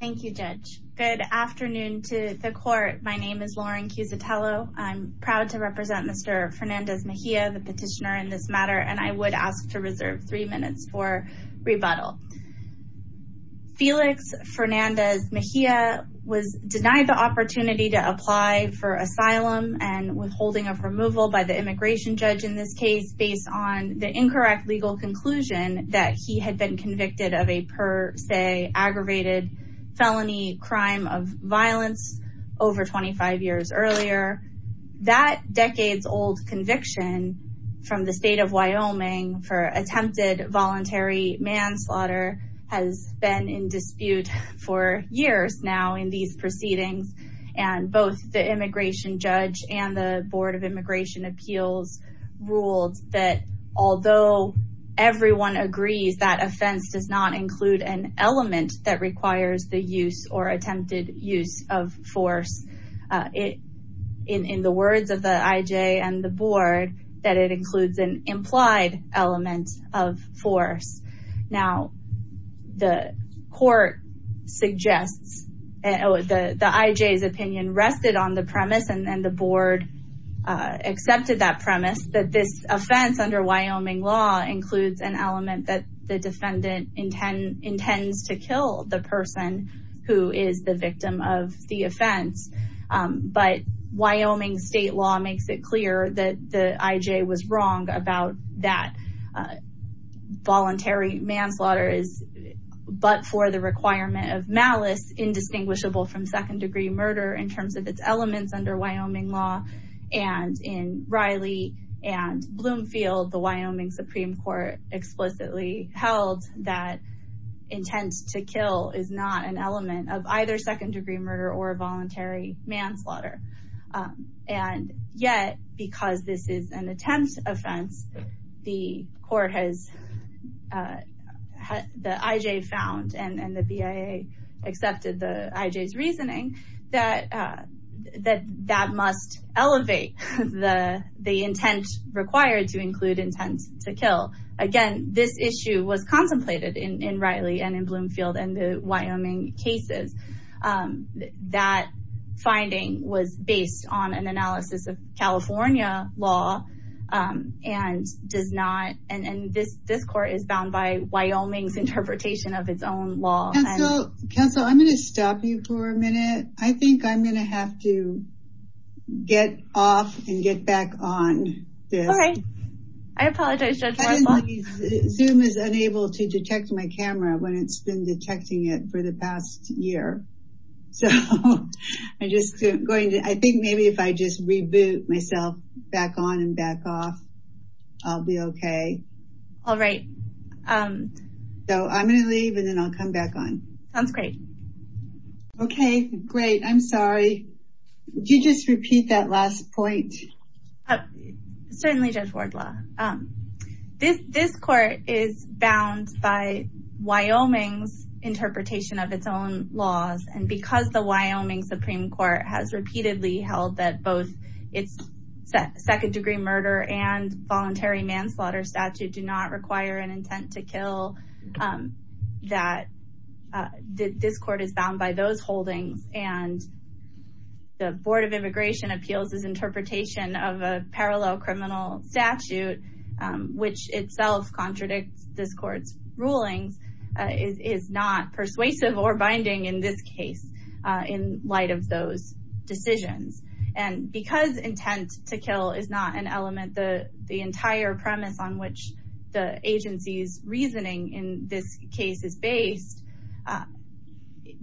Thank you, Judge. Good afternoon to the court. My name is Lauren Cusatello. I'm proud to represent Mr. Fernandez-Mejia, the petitioner in this matter, and I would ask to reserve three minutes for rebuttal. Felix Fernandez-Mejia was denied the opportunity to apply for asylum and withholding of removal by the immigration judge in this case based on the incorrect legal conclusion that he had been convicted of a per se aggravated felony crime of violence over 25 years earlier. That decades-old conviction from the state of Wyoming for attempted voluntary manslaughter has been in dispute for years now in these proceedings, and both the immigration judge and the Board of Immigration Appeals ruled that although everyone agrees that offense does not include an element that requires the use or attempted use of force. In the words of the IJ and the board, that it includes an implied element of force. Now, the court suggests, the IJ's opinion rested on the premise and then the board accepted that premise that this offense under Wyoming law includes an element that the defendant intends to kill the person who is the victim of the offense. But Wyoming state law makes it clear that the IJ was wrong about that from second-degree murder in terms of its elements under Wyoming law and in Riley and Bloomfield, the Wyoming Supreme Court explicitly held that intent to kill is not an element of either second-degree murder or voluntary manslaughter. And yet, because this is an attempt offense, the IJ found and the BIA accepted the IJ's reasoning that that must elevate the intent required to include intent to kill. Again, this issue was contemplated in Riley and in Bloomfield and the Wyoming cases. That finding was based on an analysis of California law and this court is bound by Wyoming's interpretation of its own law. Counsel, I'm going to stop you for a minute. I think I'm going to have to get off and get back on. All right. I apologize. Zoom is unable to detect my camera when it's been detecting it for the past year. So I just going to, I think maybe if I just reboot myself back on and back off, I'll be okay. All right. So I'm going to leave and then I'll come back on. Sounds great. Okay, great. I'm sorry. Did you just repeat that last point? Certainly Judge Wardlaw. This court is bound by Wyoming's interpretation of its own laws. And because the Wyoming Supreme Court has repeatedly held that both its second-degree murder and voluntary manslaughter statute do not require an intent to kill, that this court is interpretation of a parallel criminal statute, which itself contradicts this court's rulings, is not persuasive or binding in this case, in light of those decisions. And because intent to kill is not an element, the entire premise on which the agency's reasoning in this case is based,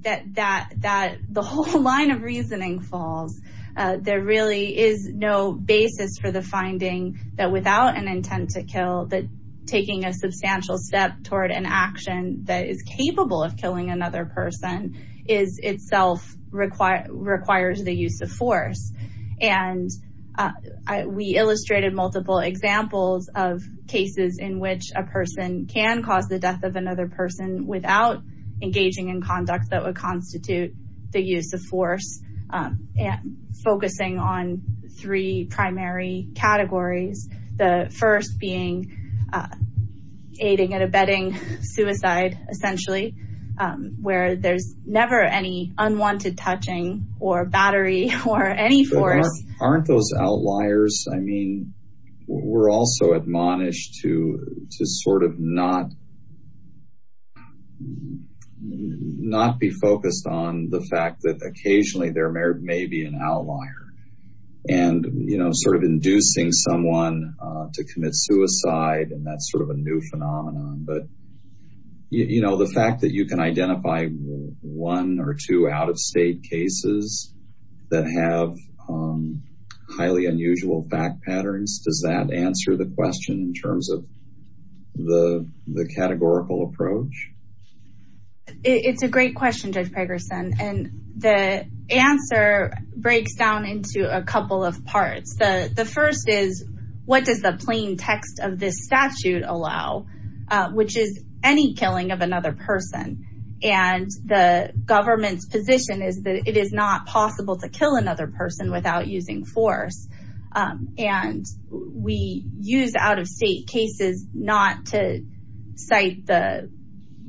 that the whole line of reasoning falls. There really is no basis for the finding that without an intent to kill, that taking a substantial step toward an action that is capable of killing another person is itself requires the use of force. And we illustrated multiple examples of person can cause the death of another person without engaging in conduct that would constitute the use of force, focusing on three primary categories. The first being aiding and abetting suicide, essentially, where there's never any unwanted touching or battery or any force. Aren't those outliers? I mean, we're also admonished to sort of not be focused on the fact that occasionally there may be an outlier. And, you know, sort of inducing someone to commit suicide, and that's sort of a new phenomenon. But, you know, the fact that you can identify one or two out-of-state cases that have highly unusual fact patterns, does that answer the question in terms of the categorical approach? It's a great question, Judge Pegerson. And the answer breaks down into a couple of parts. The first is, what does the plain text of this statute allow, which is any killing of another person? And the government's position is that it is not possible to kill another person without using force. And we use out-of-state cases not to cite the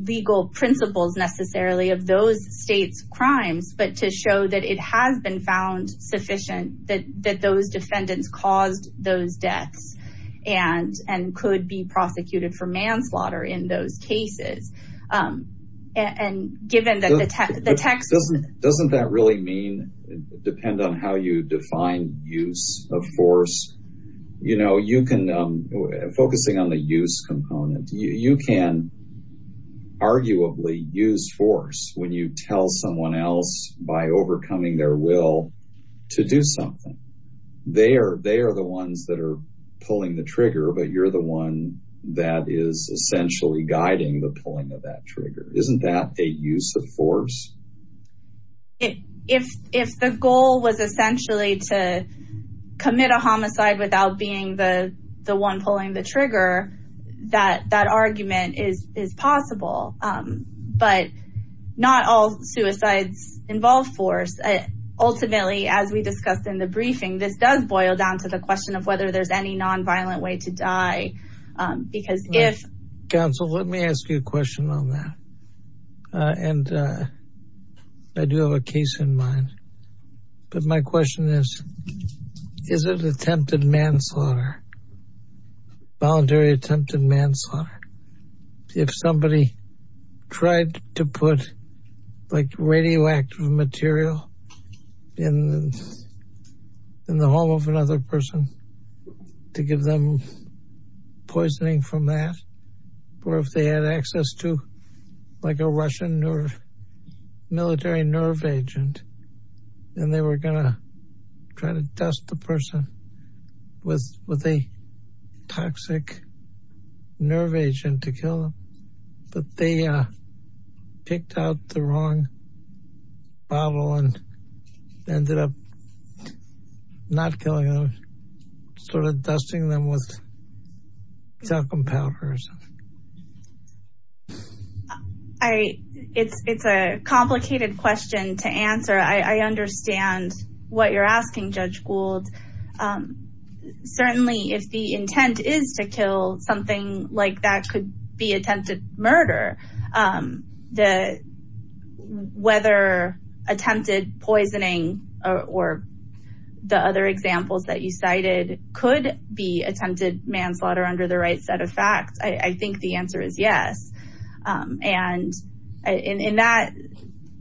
legal principles necessarily of those states' crimes, but to show that it has been found sufficient that those defendants caused those deaths and could be prosecuted for manslaughter in those cases. And given that the text… Doesn't that really mean, depend on how you define use of force? You know, you can, focusing on the use component, you can arguably use force when you tell someone else by overcoming their will to do something. They are the ones that are pulling the trigger, but you're the one that is essentially guiding the pulling of that trigger. Isn't that a use of force? If the goal was essentially to commit a homicide without being the one pulling the trigger, that argument is possible. But not all suicides involve force. Ultimately, as we discussed in the briefing, this does boil down to the question of whether there's any nonviolent way to die. Because if… Counsel, let me ask you a question on that. And I do have a case in mind. But my question is, is it attempted manslaughter, voluntary attempted manslaughter, if somebody tried to put like radioactive material in the home of another person to give them poisoning from that? Or if they had access to like a Russian or military nerve agent, and they were going to try to dust the person with a toxic nerve agent to kill them, but they picked out the wrong bottle and ended up not killing them, sort of dusting them with talcum powder or something? I… It's a complicated question to answer. I understand what you're asking, Judge Gould. Certainly, if the intent is to kill, something like that could be attempted murder. Whether attempted poisoning or the other examples that you cited could be attempted manslaughter under the right set of facts, I think the answer is yes. And in that,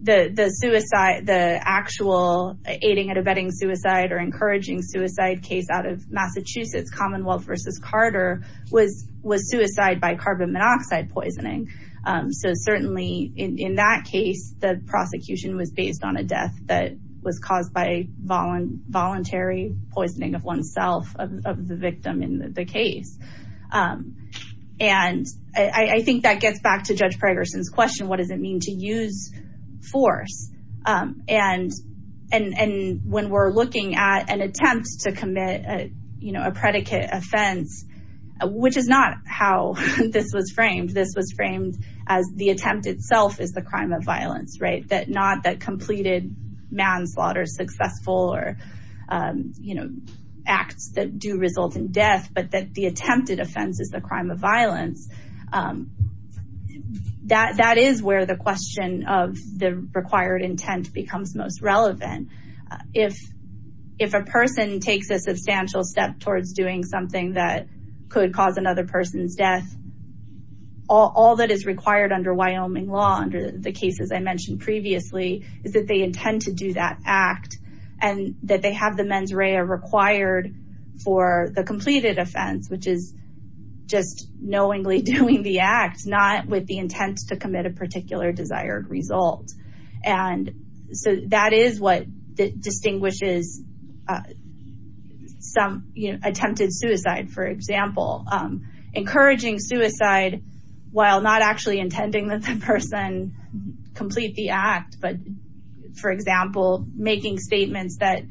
the suicide, the actual aiding and abetting suicide or encouraging suicide case out of Massachusetts, Commonwealth versus Carter, was suicide by carbon monoxide poisoning. So certainly, in that case, the prosecution was based on a death that was caused by voluntary poisoning of oneself, of the victim in the case. And I think that gets back to Judge Pregerson's question, what does it mean to use force? And when we're looking at an attempt to commit a predicate offense, which is not how this was framed, this was framed as the attempt itself is the crime of violence, that not that completed manslaughter is successful or acts that do result in death, but that the attempted offense is the crime of violence. That is where the question of the required intent becomes most relevant. If a person takes a substantial step towards doing something that could cause another person's death, all that is required under Wyoming law, under the cases I mentioned previously, is that they intend to do that act and that they have the mens rea required for the completed offense, which is just knowingly doing the act, not with the intent to commit a particular desired result. That is what distinguishes attempted suicide, for example. Encouraging suicide while not actually intending that the person complete the act, but, for example, making statements that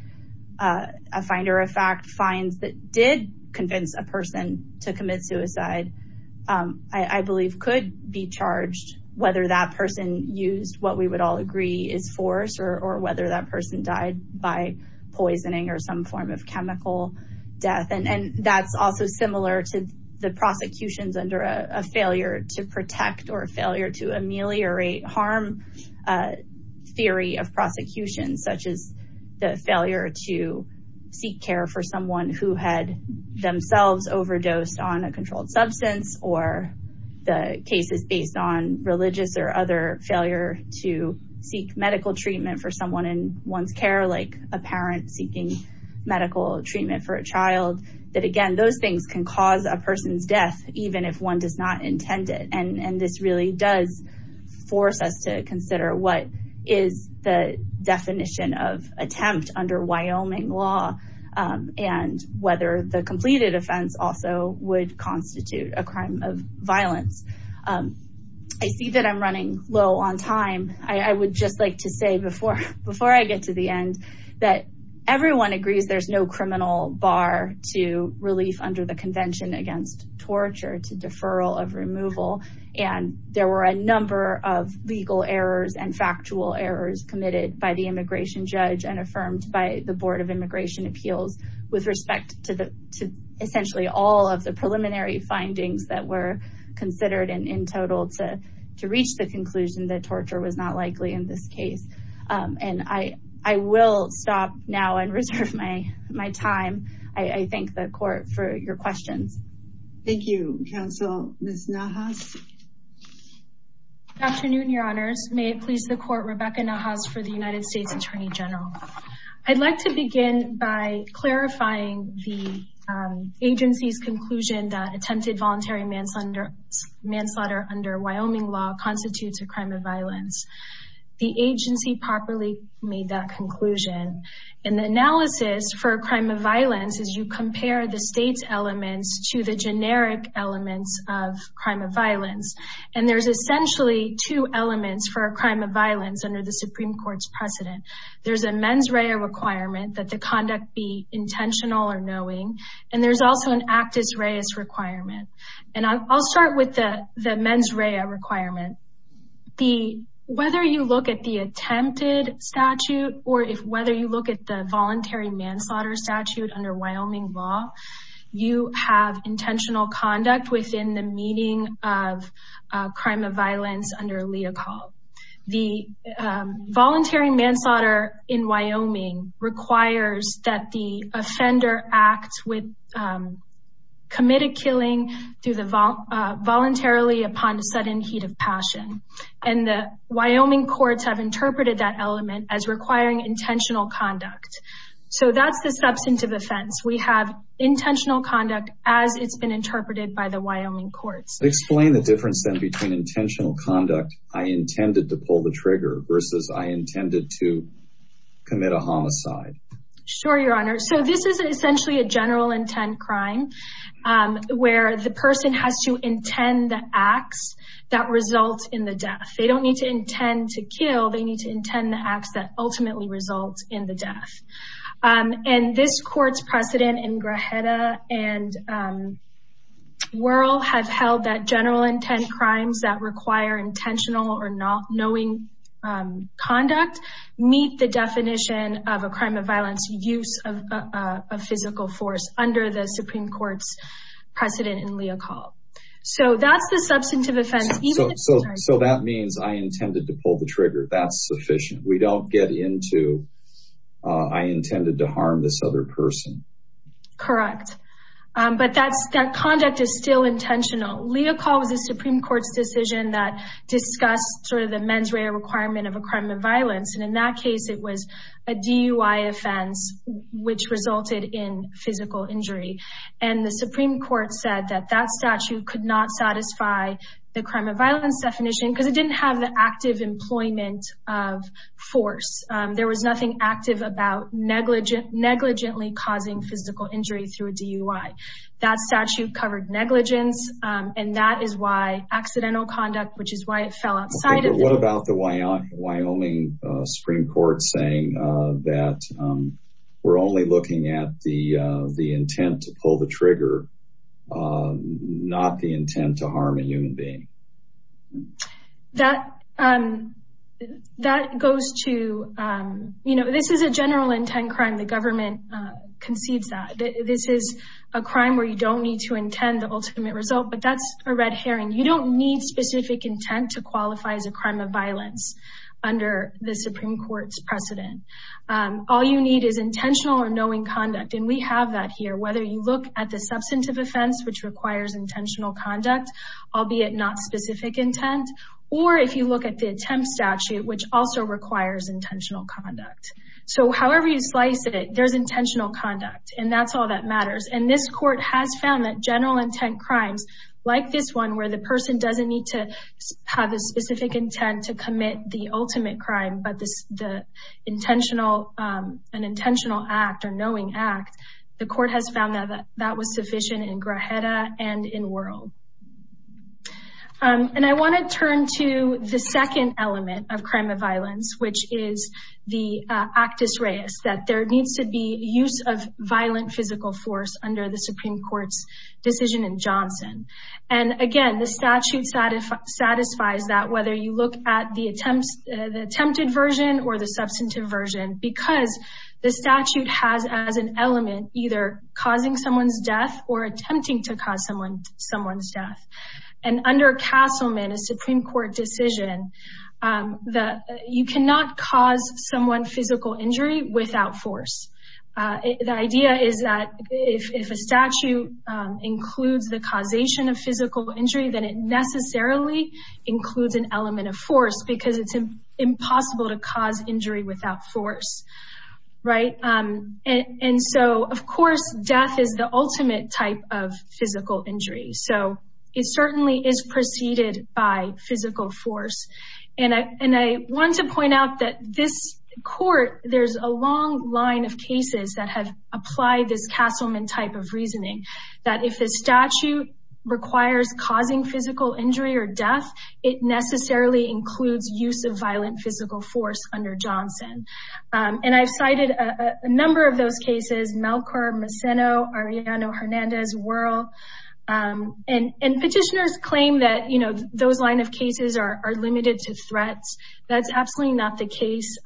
a finder of fact finds that did convince a person to commit suicide, I believe could be charged whether that person used what we would all agree is force or whether that person died by poisoning or some form of chemical death. That is also similar to the prosecutions under a failure to protect or failure to ameliorate harm theory of prosecution, such as the failure to seek care for someone who had themselves overdosed on a controlled substance or the cases based on religious or other failure to seek medical treatment for someone in one's care, like a parent seeking medical treatment for a child. Again, those things can cause a person's death even if one does not intend it. This really does force us to consider what is the definition of attempt under Wyoming law and whether the completed offense also would constitute a crime of violence. I see that I'm running low on time. I would just like to say before I get to the end that everyone agrees there's no criminal bar to relief under the convention against torture, to deferral of removal, and there were a number of legal errors and factual errors committed by the immigration judge and affirmed by the Board of Immigration Appeals with respect to essentially all of the preliminary findings that were considered and in total to reach the conclusion that torture was not likely in this case. I will stop now and reserve my time. I thank the court for your questions. Thank you, counsel. Ms. Nahas? Good afternoon, your honors. May it please the Attorney General. I'd like to begin by clarifying the agency's conclusion that attempted voluntary manslaughter under Wyoming law constitutes a crime of violence. The agency properly made that conclusion. In the analysis for a crime of violence, as you compare the state's elements to the generic elements of crime of violence, and there's essentially two elements for a crime of There's a mens rea requirement that the conduct be intentional or knowing, and there's also an actus reus requirement. And I'll start with the mens rea requirement. Whether you look at the attempted statute or if whether you look at the voluntary manslaughter statute under Wyoming law, you have intentional conduct within the meaning of crime of violence under lea call. The voluntary manslaughter in Wyoming requires that the offender act with committed killing through the voluntarily upon a sudden heat of passion. And the Wyoming courts have interpreted that element as requiring intentional conduct. So that's the substantive offense. We have intentional conduct as it's been interpreted by the Wyoming courts. Explain the difference then between intentional conduct, I intended to pull the trigger versus I intended to commit a homicide. Sure, your honor. So this is essentially a general intent crime where the person has to intend the acts that result in the death. They don't need to intend to kill. They need to intend the acts that ultimately result in the death. And this crimes that require intentional or not knowing conduct meet the definition of a crime of violence use of a physical force under the Supreme Court's precedent in lea call. So that's the substantive offense. So that means I intended to pull the trigger. That's sufficient. We don't get into I intended to harm this other person. Correct. But that's that conduct is still intentional. Leah call was the Supreme Court's decision that discussed sort of the mens rea requirement of a crime of violence. And in that case, it was a DUI offense, which resulted in physical injury. And the Supreme Court said that that statute could not satisfy the crime of violence definition because it didn't have the active employment of force. There was nothing active about negligent, negligently causing physical injury through a DUI. That statute covered negligence. And that is why accidental conduct, which is why it fell outside. What about the Wyoming Supreme Court saying that we're only looking at the intent to pull the trigger, not the intent to harm a human being? That goes to, you know, this is a general intent crime. The government conceives that. This is a crime where you don't need to intend the ultimate result. But that's a red herring. You don't need specific intent to qualify as a crime of violence under the Supreme Court's precedent. All you need is intentional or knowing conduct. And we have that here. Whether you look at the offense, which requires intentional conduct, albeit not specific intent, or if you look at the attempt statute, which also requires intentional conduct. So however you slice it, there's intentional conduct. And that's all that matters. And this court has found that general intent crimes like this one, where the person doesn't need to have a specific intent to commit the ultimate act, the court has found that that was sufficient in Grajeda and in World. And I want to turn to the second element of crime of violence, which is the actus reus, that there needs to be use of violent physical force under the Supreme Court's decision in Johnson. And again, the statute satisfies that whether you look at the attempted version or the element, either causing someone's death or attempting to cause someone's death. And under Castleman, a Supreme Court decision, you cannot cause someone physical injury without force. The idea is that if a statute includes the causation of physical injury, then it necessarily includes an element of force because it's impossible to cause injury without force. Right. And so of course, death is the ultimate type of physical injury. So it certainly is preceded by physical force. And I want to point out that this court, there's a long line of cases that have applied this Castleman type of reasoning, that if the statute requires causing physical injury or death, it necessarily includes use of violent physical force under Johnson. And I've cited a number of those cases, Melchor, Masseno, Arellano, Hernandez, Wuerl. And petitioners claim that those line of cases are limited to threats. That's absolutely not the case.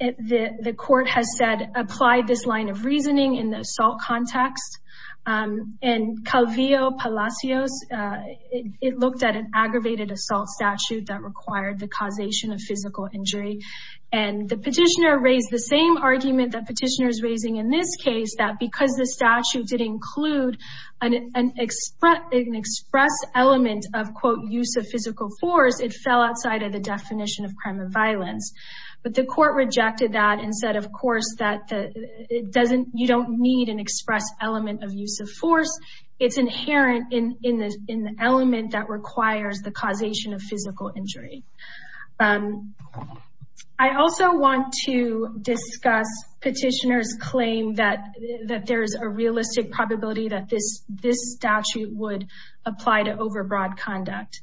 The court has said, apply this line of reasoning in the assault context. And Calvillo, Palacios, it looked at an aggravated assault statute that required the causation of physical injury. And the petitioner raised the same argument that petitioner is raising in this case, that because the statute did include an express element of, quote, use of physical force, it fell outside of the definition of crime and violence. But the court rejected that and said, of course, it doesn't, you don't need an express element of use of force. It's inherent in the element that requires the causation of physical injury. I also want to discuss petitioner's claim that there's a realistic probability that this statute would apply to overbroad conduct.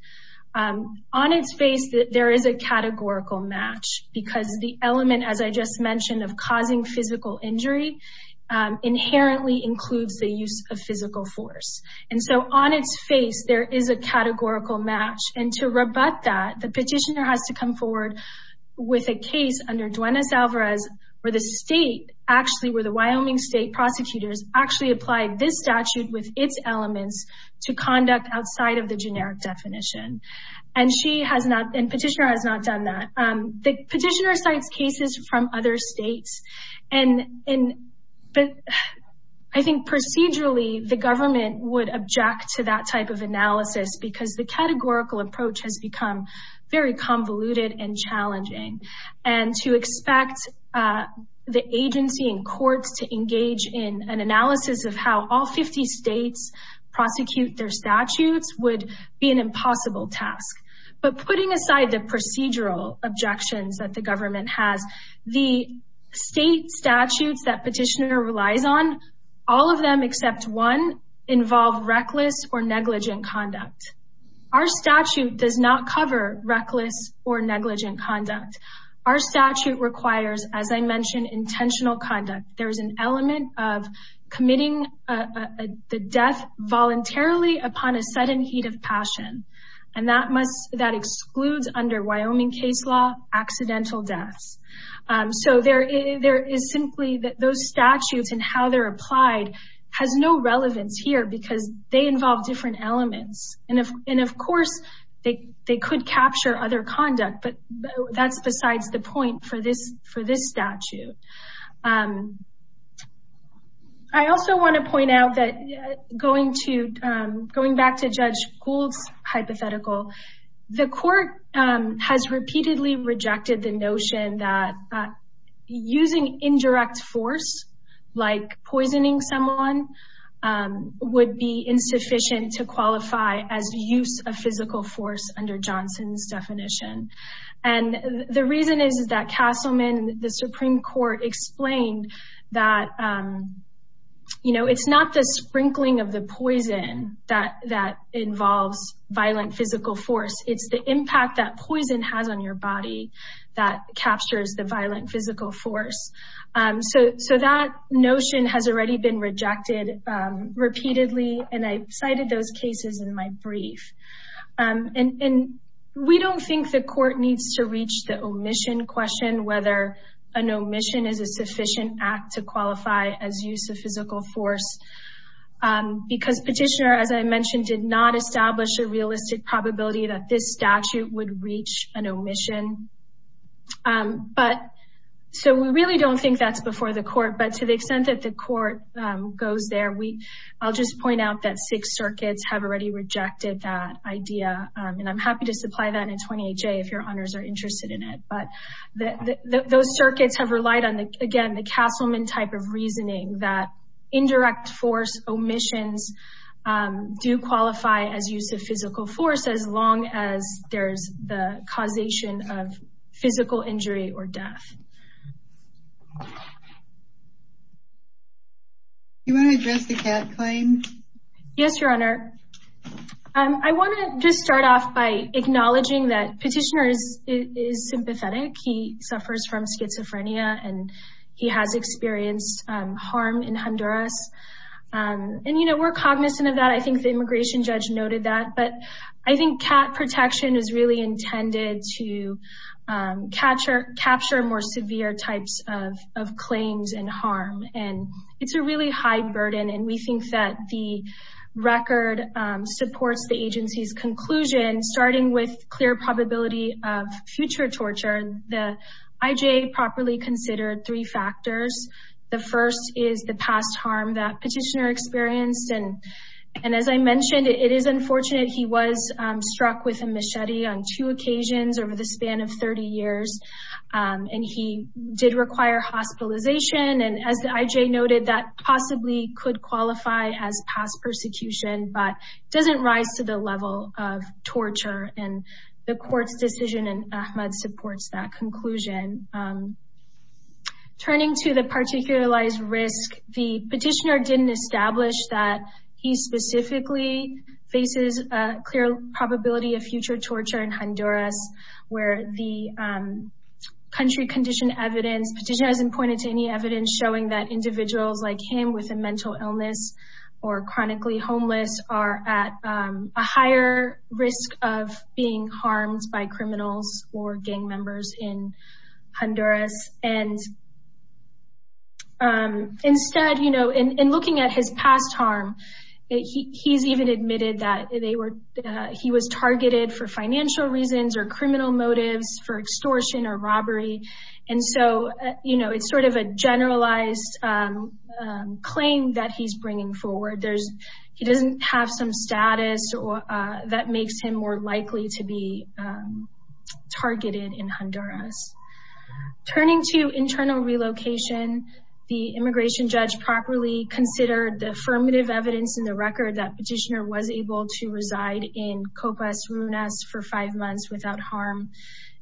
On its face, there is a categorical match because the element, as I just mentioned, of causing physical injury inherently includes the use of physical force. And so on its face, there is a categorical match. And to rebut that, the petitioner has to come forward with a case under Duenas Alvarez, where the state, actually, where the Wyoming state prosecutors actually applied this statute with its elements to conduct outside of the generic definition. And petitioner has not done that. The petitioner cites cases from other states. I think procedurally, the government would object to that type of analysis, because the categorical approach has become very convoluted and challenging. And to expect the agency and courts to engage in an analysis of how all 50 states prosecute their statutes would be an impossible task. But putting aside the procedural objections that the government has, the state statutes that petitioner relies on, all of them except one, involve reckless or negligent conduct. Our statute does not cover reckless or negligent conduct. Our statute requires, as I mentioned, intentional conduct. There is an element of committing the death voluntarily upon a sudden heat of passion. And that excludes, under Wyoming case law, accidental deaths. So there is simply, those statutes and how they're applied has no relevance here, because they involve different elements. And of course, they could capture other conduct, but that's besides the point for this statute. I also want to point out that going back to Judge Gould's hypothetical, the court has repeatedly rejected the notion that using indirect force, like poisoning someone, would be insufficient to qualify as use of physical force under Johnson's definition. And the reason is that Castleman, the Supreme Court, explained that, you know, it's not the sprinkling of the poison that involves violent physical force. It's the impact that poison has on your body that captures the violent physical force. So that notion has already been rejected repeatedly, and I cited those cases in my brief. And we don't think the court needs to reach the omission question, whether an omission is a sufficient act to qualify as use of physical force. Because Petitioner, as I mentioned, did not establish a realistic probability that this statute would reach an omission. So we really don't think that's before the court. But to the I'll just point out that six circuits have already rejected that idea, and I'm happy to supply that in 20HA if your honors are interested in it. But those circuits have relied on, again, the Castleman type of reasoning that indirect force omissions do qualify as use of physical force as long as there's the causation of physical injury or death. Do you want to address the cat claim? Yes, your honor. I want to just start off by acknowledging that Petitioner is sympathetic. He suffers from schizophrenia, and he has experienced harm in Honduras. And, you know, we're cognizant of that. I think the immigration judge noted that. But I think cat protection is really intended to capture more skin. And so, you know, severe types of claims and harm. And it's a really high burden. And we think that the record supports the agency's conclusion, starting with clear probability of future torture. The IJA properly considered three factors. The first is the past harm that Petitioner experienced. And as I mentioned, it is unfortunate he was struck with a machete on two occasions over the span of 30 years. And he did require hospitalization. And as the IJA noted, that possibly could qualify as past persecution, but doesn't rise to the level of torture. And the court's decision in AHMED supports that conclusion. Turning to the particularized risk, the Petitioner didn't establish that he specifically faces a clear probability of future torture in Honduras, where the country condition evidence, Petitioner hasn't pointed to any evidence showing that individuals like him with a mental illness or chronically homeless are at a higher risk of being harmed by criminals or gang members in Honduras. And instead, you know, in looking at his past harm, he's even admitted that he was targeted for financial reasons or criminal motives for extortion or robbery. And so, you know, it's sort of a generalized claim that he's bringing forward. He doesn't have some status that makes him more likely to be targeted in Honduras. Turning to internal relocation, the Immigration Judge properly considered the affirmative evidence in the record that Petitioner was able to reside in Copas Runas for five months without harm.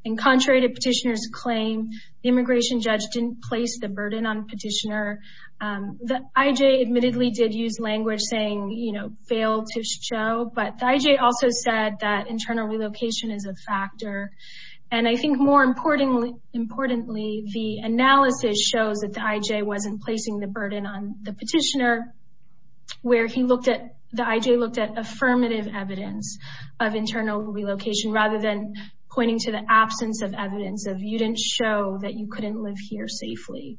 And contrary to Petitioner's claim, the Immigration Judge didn't place the burden on Petitioner. The IJA admittedly did use language saying, you know, fail to show, but the IJA also said that importantly, the analysis shows that the IJA wasn't placing the burden on the Petitioner, where he looked at, the IJA looked at affirmative evidence of internal relocation rather than pointing to the absence of evidence of you didn't show that you couldn't live here safely.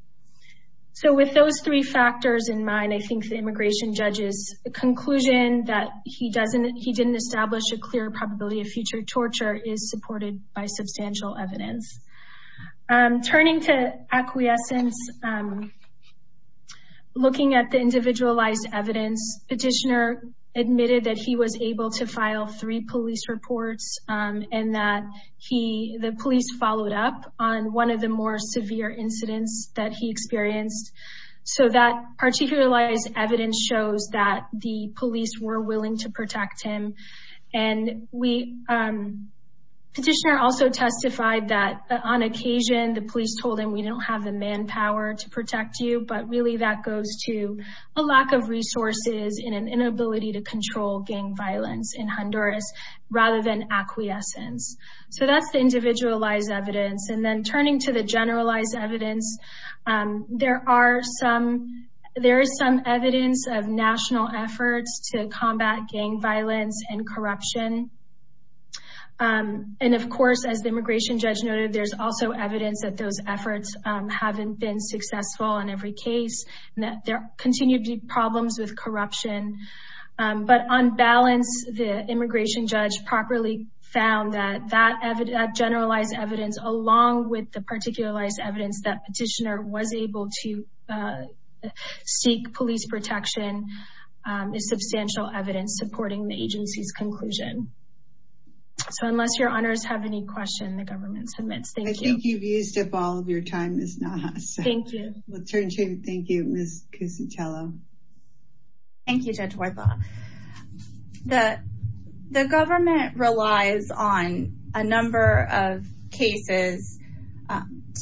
So with those three factors in mind, I think the Immigration Judge's conclusion that he doesn't, he didn't establish a clear probability of future torture is supported by substantial evidence. Turning to acquiescence, looking at the individualized evidence, Petitioner admitted that he was able to file three police reports and that he, the police followed up on one of the more severe incidents that he experienced. So that particularized evidence shows that the police were willing to protect him. And we, Petitioner also testified that on occasion, the police told him we don't have the manpower to protect you, but really that goes to a lack of resources and an inability to control gang violence in Honduras rather than acquiescence. So that's the individualized evidence. And then turning to the generalized evidence, there are some, there is some evidence of national efforts to combat gang violence and corruption. And of course, as the Immigration Judge noted, there's also evidence that those efforts haven't been successful in every case and that there continue to be problems with corruption. But on balance, the Immigration Judge properly found that that generalized evidence along with the particularized evidence that Petitioner was able to seek police protection is substantial evidence supporting the agency's conclusion. So unless your honors have any questions, the government submits. Thank you. I think you've used up all of your time, Ms. Nahas. Thank you. We'll turn to you. Thank you, Ms. Cusicello. Thank you, Judge Huerta. The government relies on a number of cases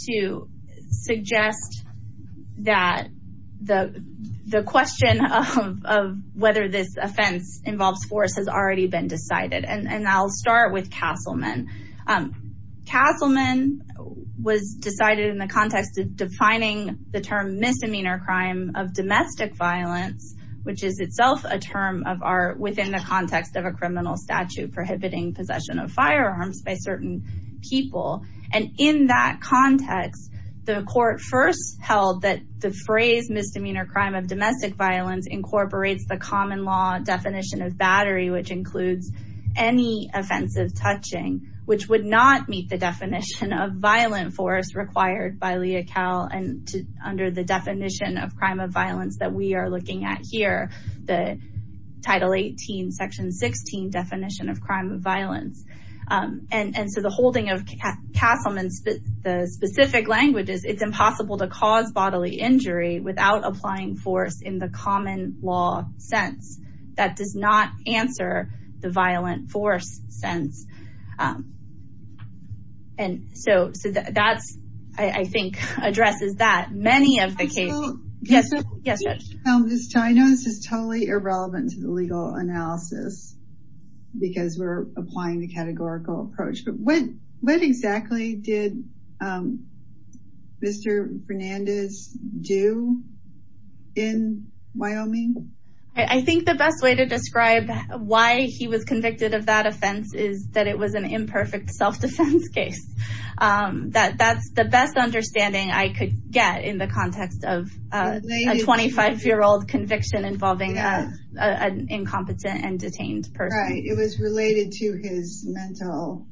to suggest that the the question of whether this offense involves force has already been decided. And I'll start with Castleman. Castleman was decided in the context of defining the term misdemeanor crime of domestic violence, which is itself a term of art within the context of a criminal statute prohibiting possession of firearms by certain people. And in that context, the court first held that the phrase misdemeanor crime of domestic violence incorporates the common law definition of battery, which includes any offensive touching, which would not meet the we are looking at here, the Title 18, Section 16 definition of crime of violence. And so the holding of Castleman's the specific languages, it's impossible to cause bodily injury without applying force in the common law sense that does not answer the violent force sense. And so that's, I think, addresses that many of the cases. Yes, yes, Judge. I know this is totally irrelevant to the legal analysis because we're applying the categorical approach, but what what exactly did Mr. Fernandez do in Wyoming? I think the best way to describe why he was convicted of that offense is that it was an imperfect self-defense case. That's the best understanding I could get in the context of a 25-year-old conviction involving an incompetent and detained person. It was related to his mental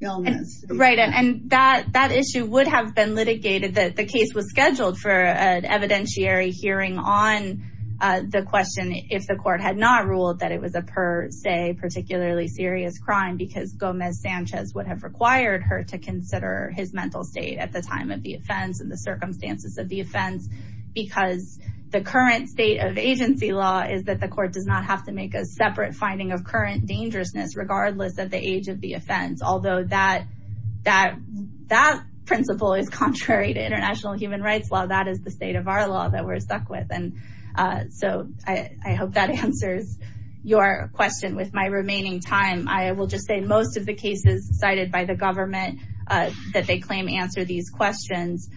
illness. Right. And that issue would have been litigated that case was scheduled for an evidentiary hearing on the question if the court had not ruled that it was a per se, particularly serious crime, because Gomez Sanchez would have required her to consider his mental state at the time of the offense and the circumstances of the offense, because the current state of agency law is that the court does not have to make a separate finding of current dangerousness regardless of the age of the offense. Although that that that principle is contrary to human rights, while that is the state of our law that we're stuck with. And so I hope that answers your question with my remaining time. I will just say most of the cases cited by the government that they claim answer these questions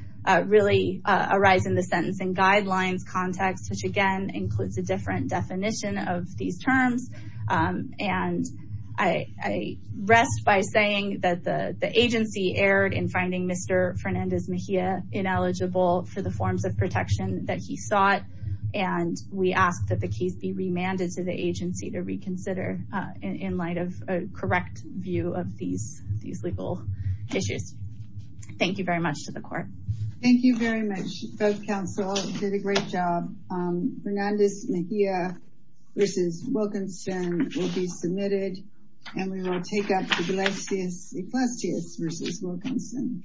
really arise in the sentencing guidelines context, which again includes a different definition of these terms. And I rest by saying that the for the forms of protection that he sought. And we ask that the case be remanded to the agency to reconsider in light of a correct view of these these legal issues. Thank you very much to the court. Thank you very much. Both counsel did a great job. Fernandez Mejia versus Wilkinson will be submitted and we will take up Iglesias Iglesias versus Wilkinson.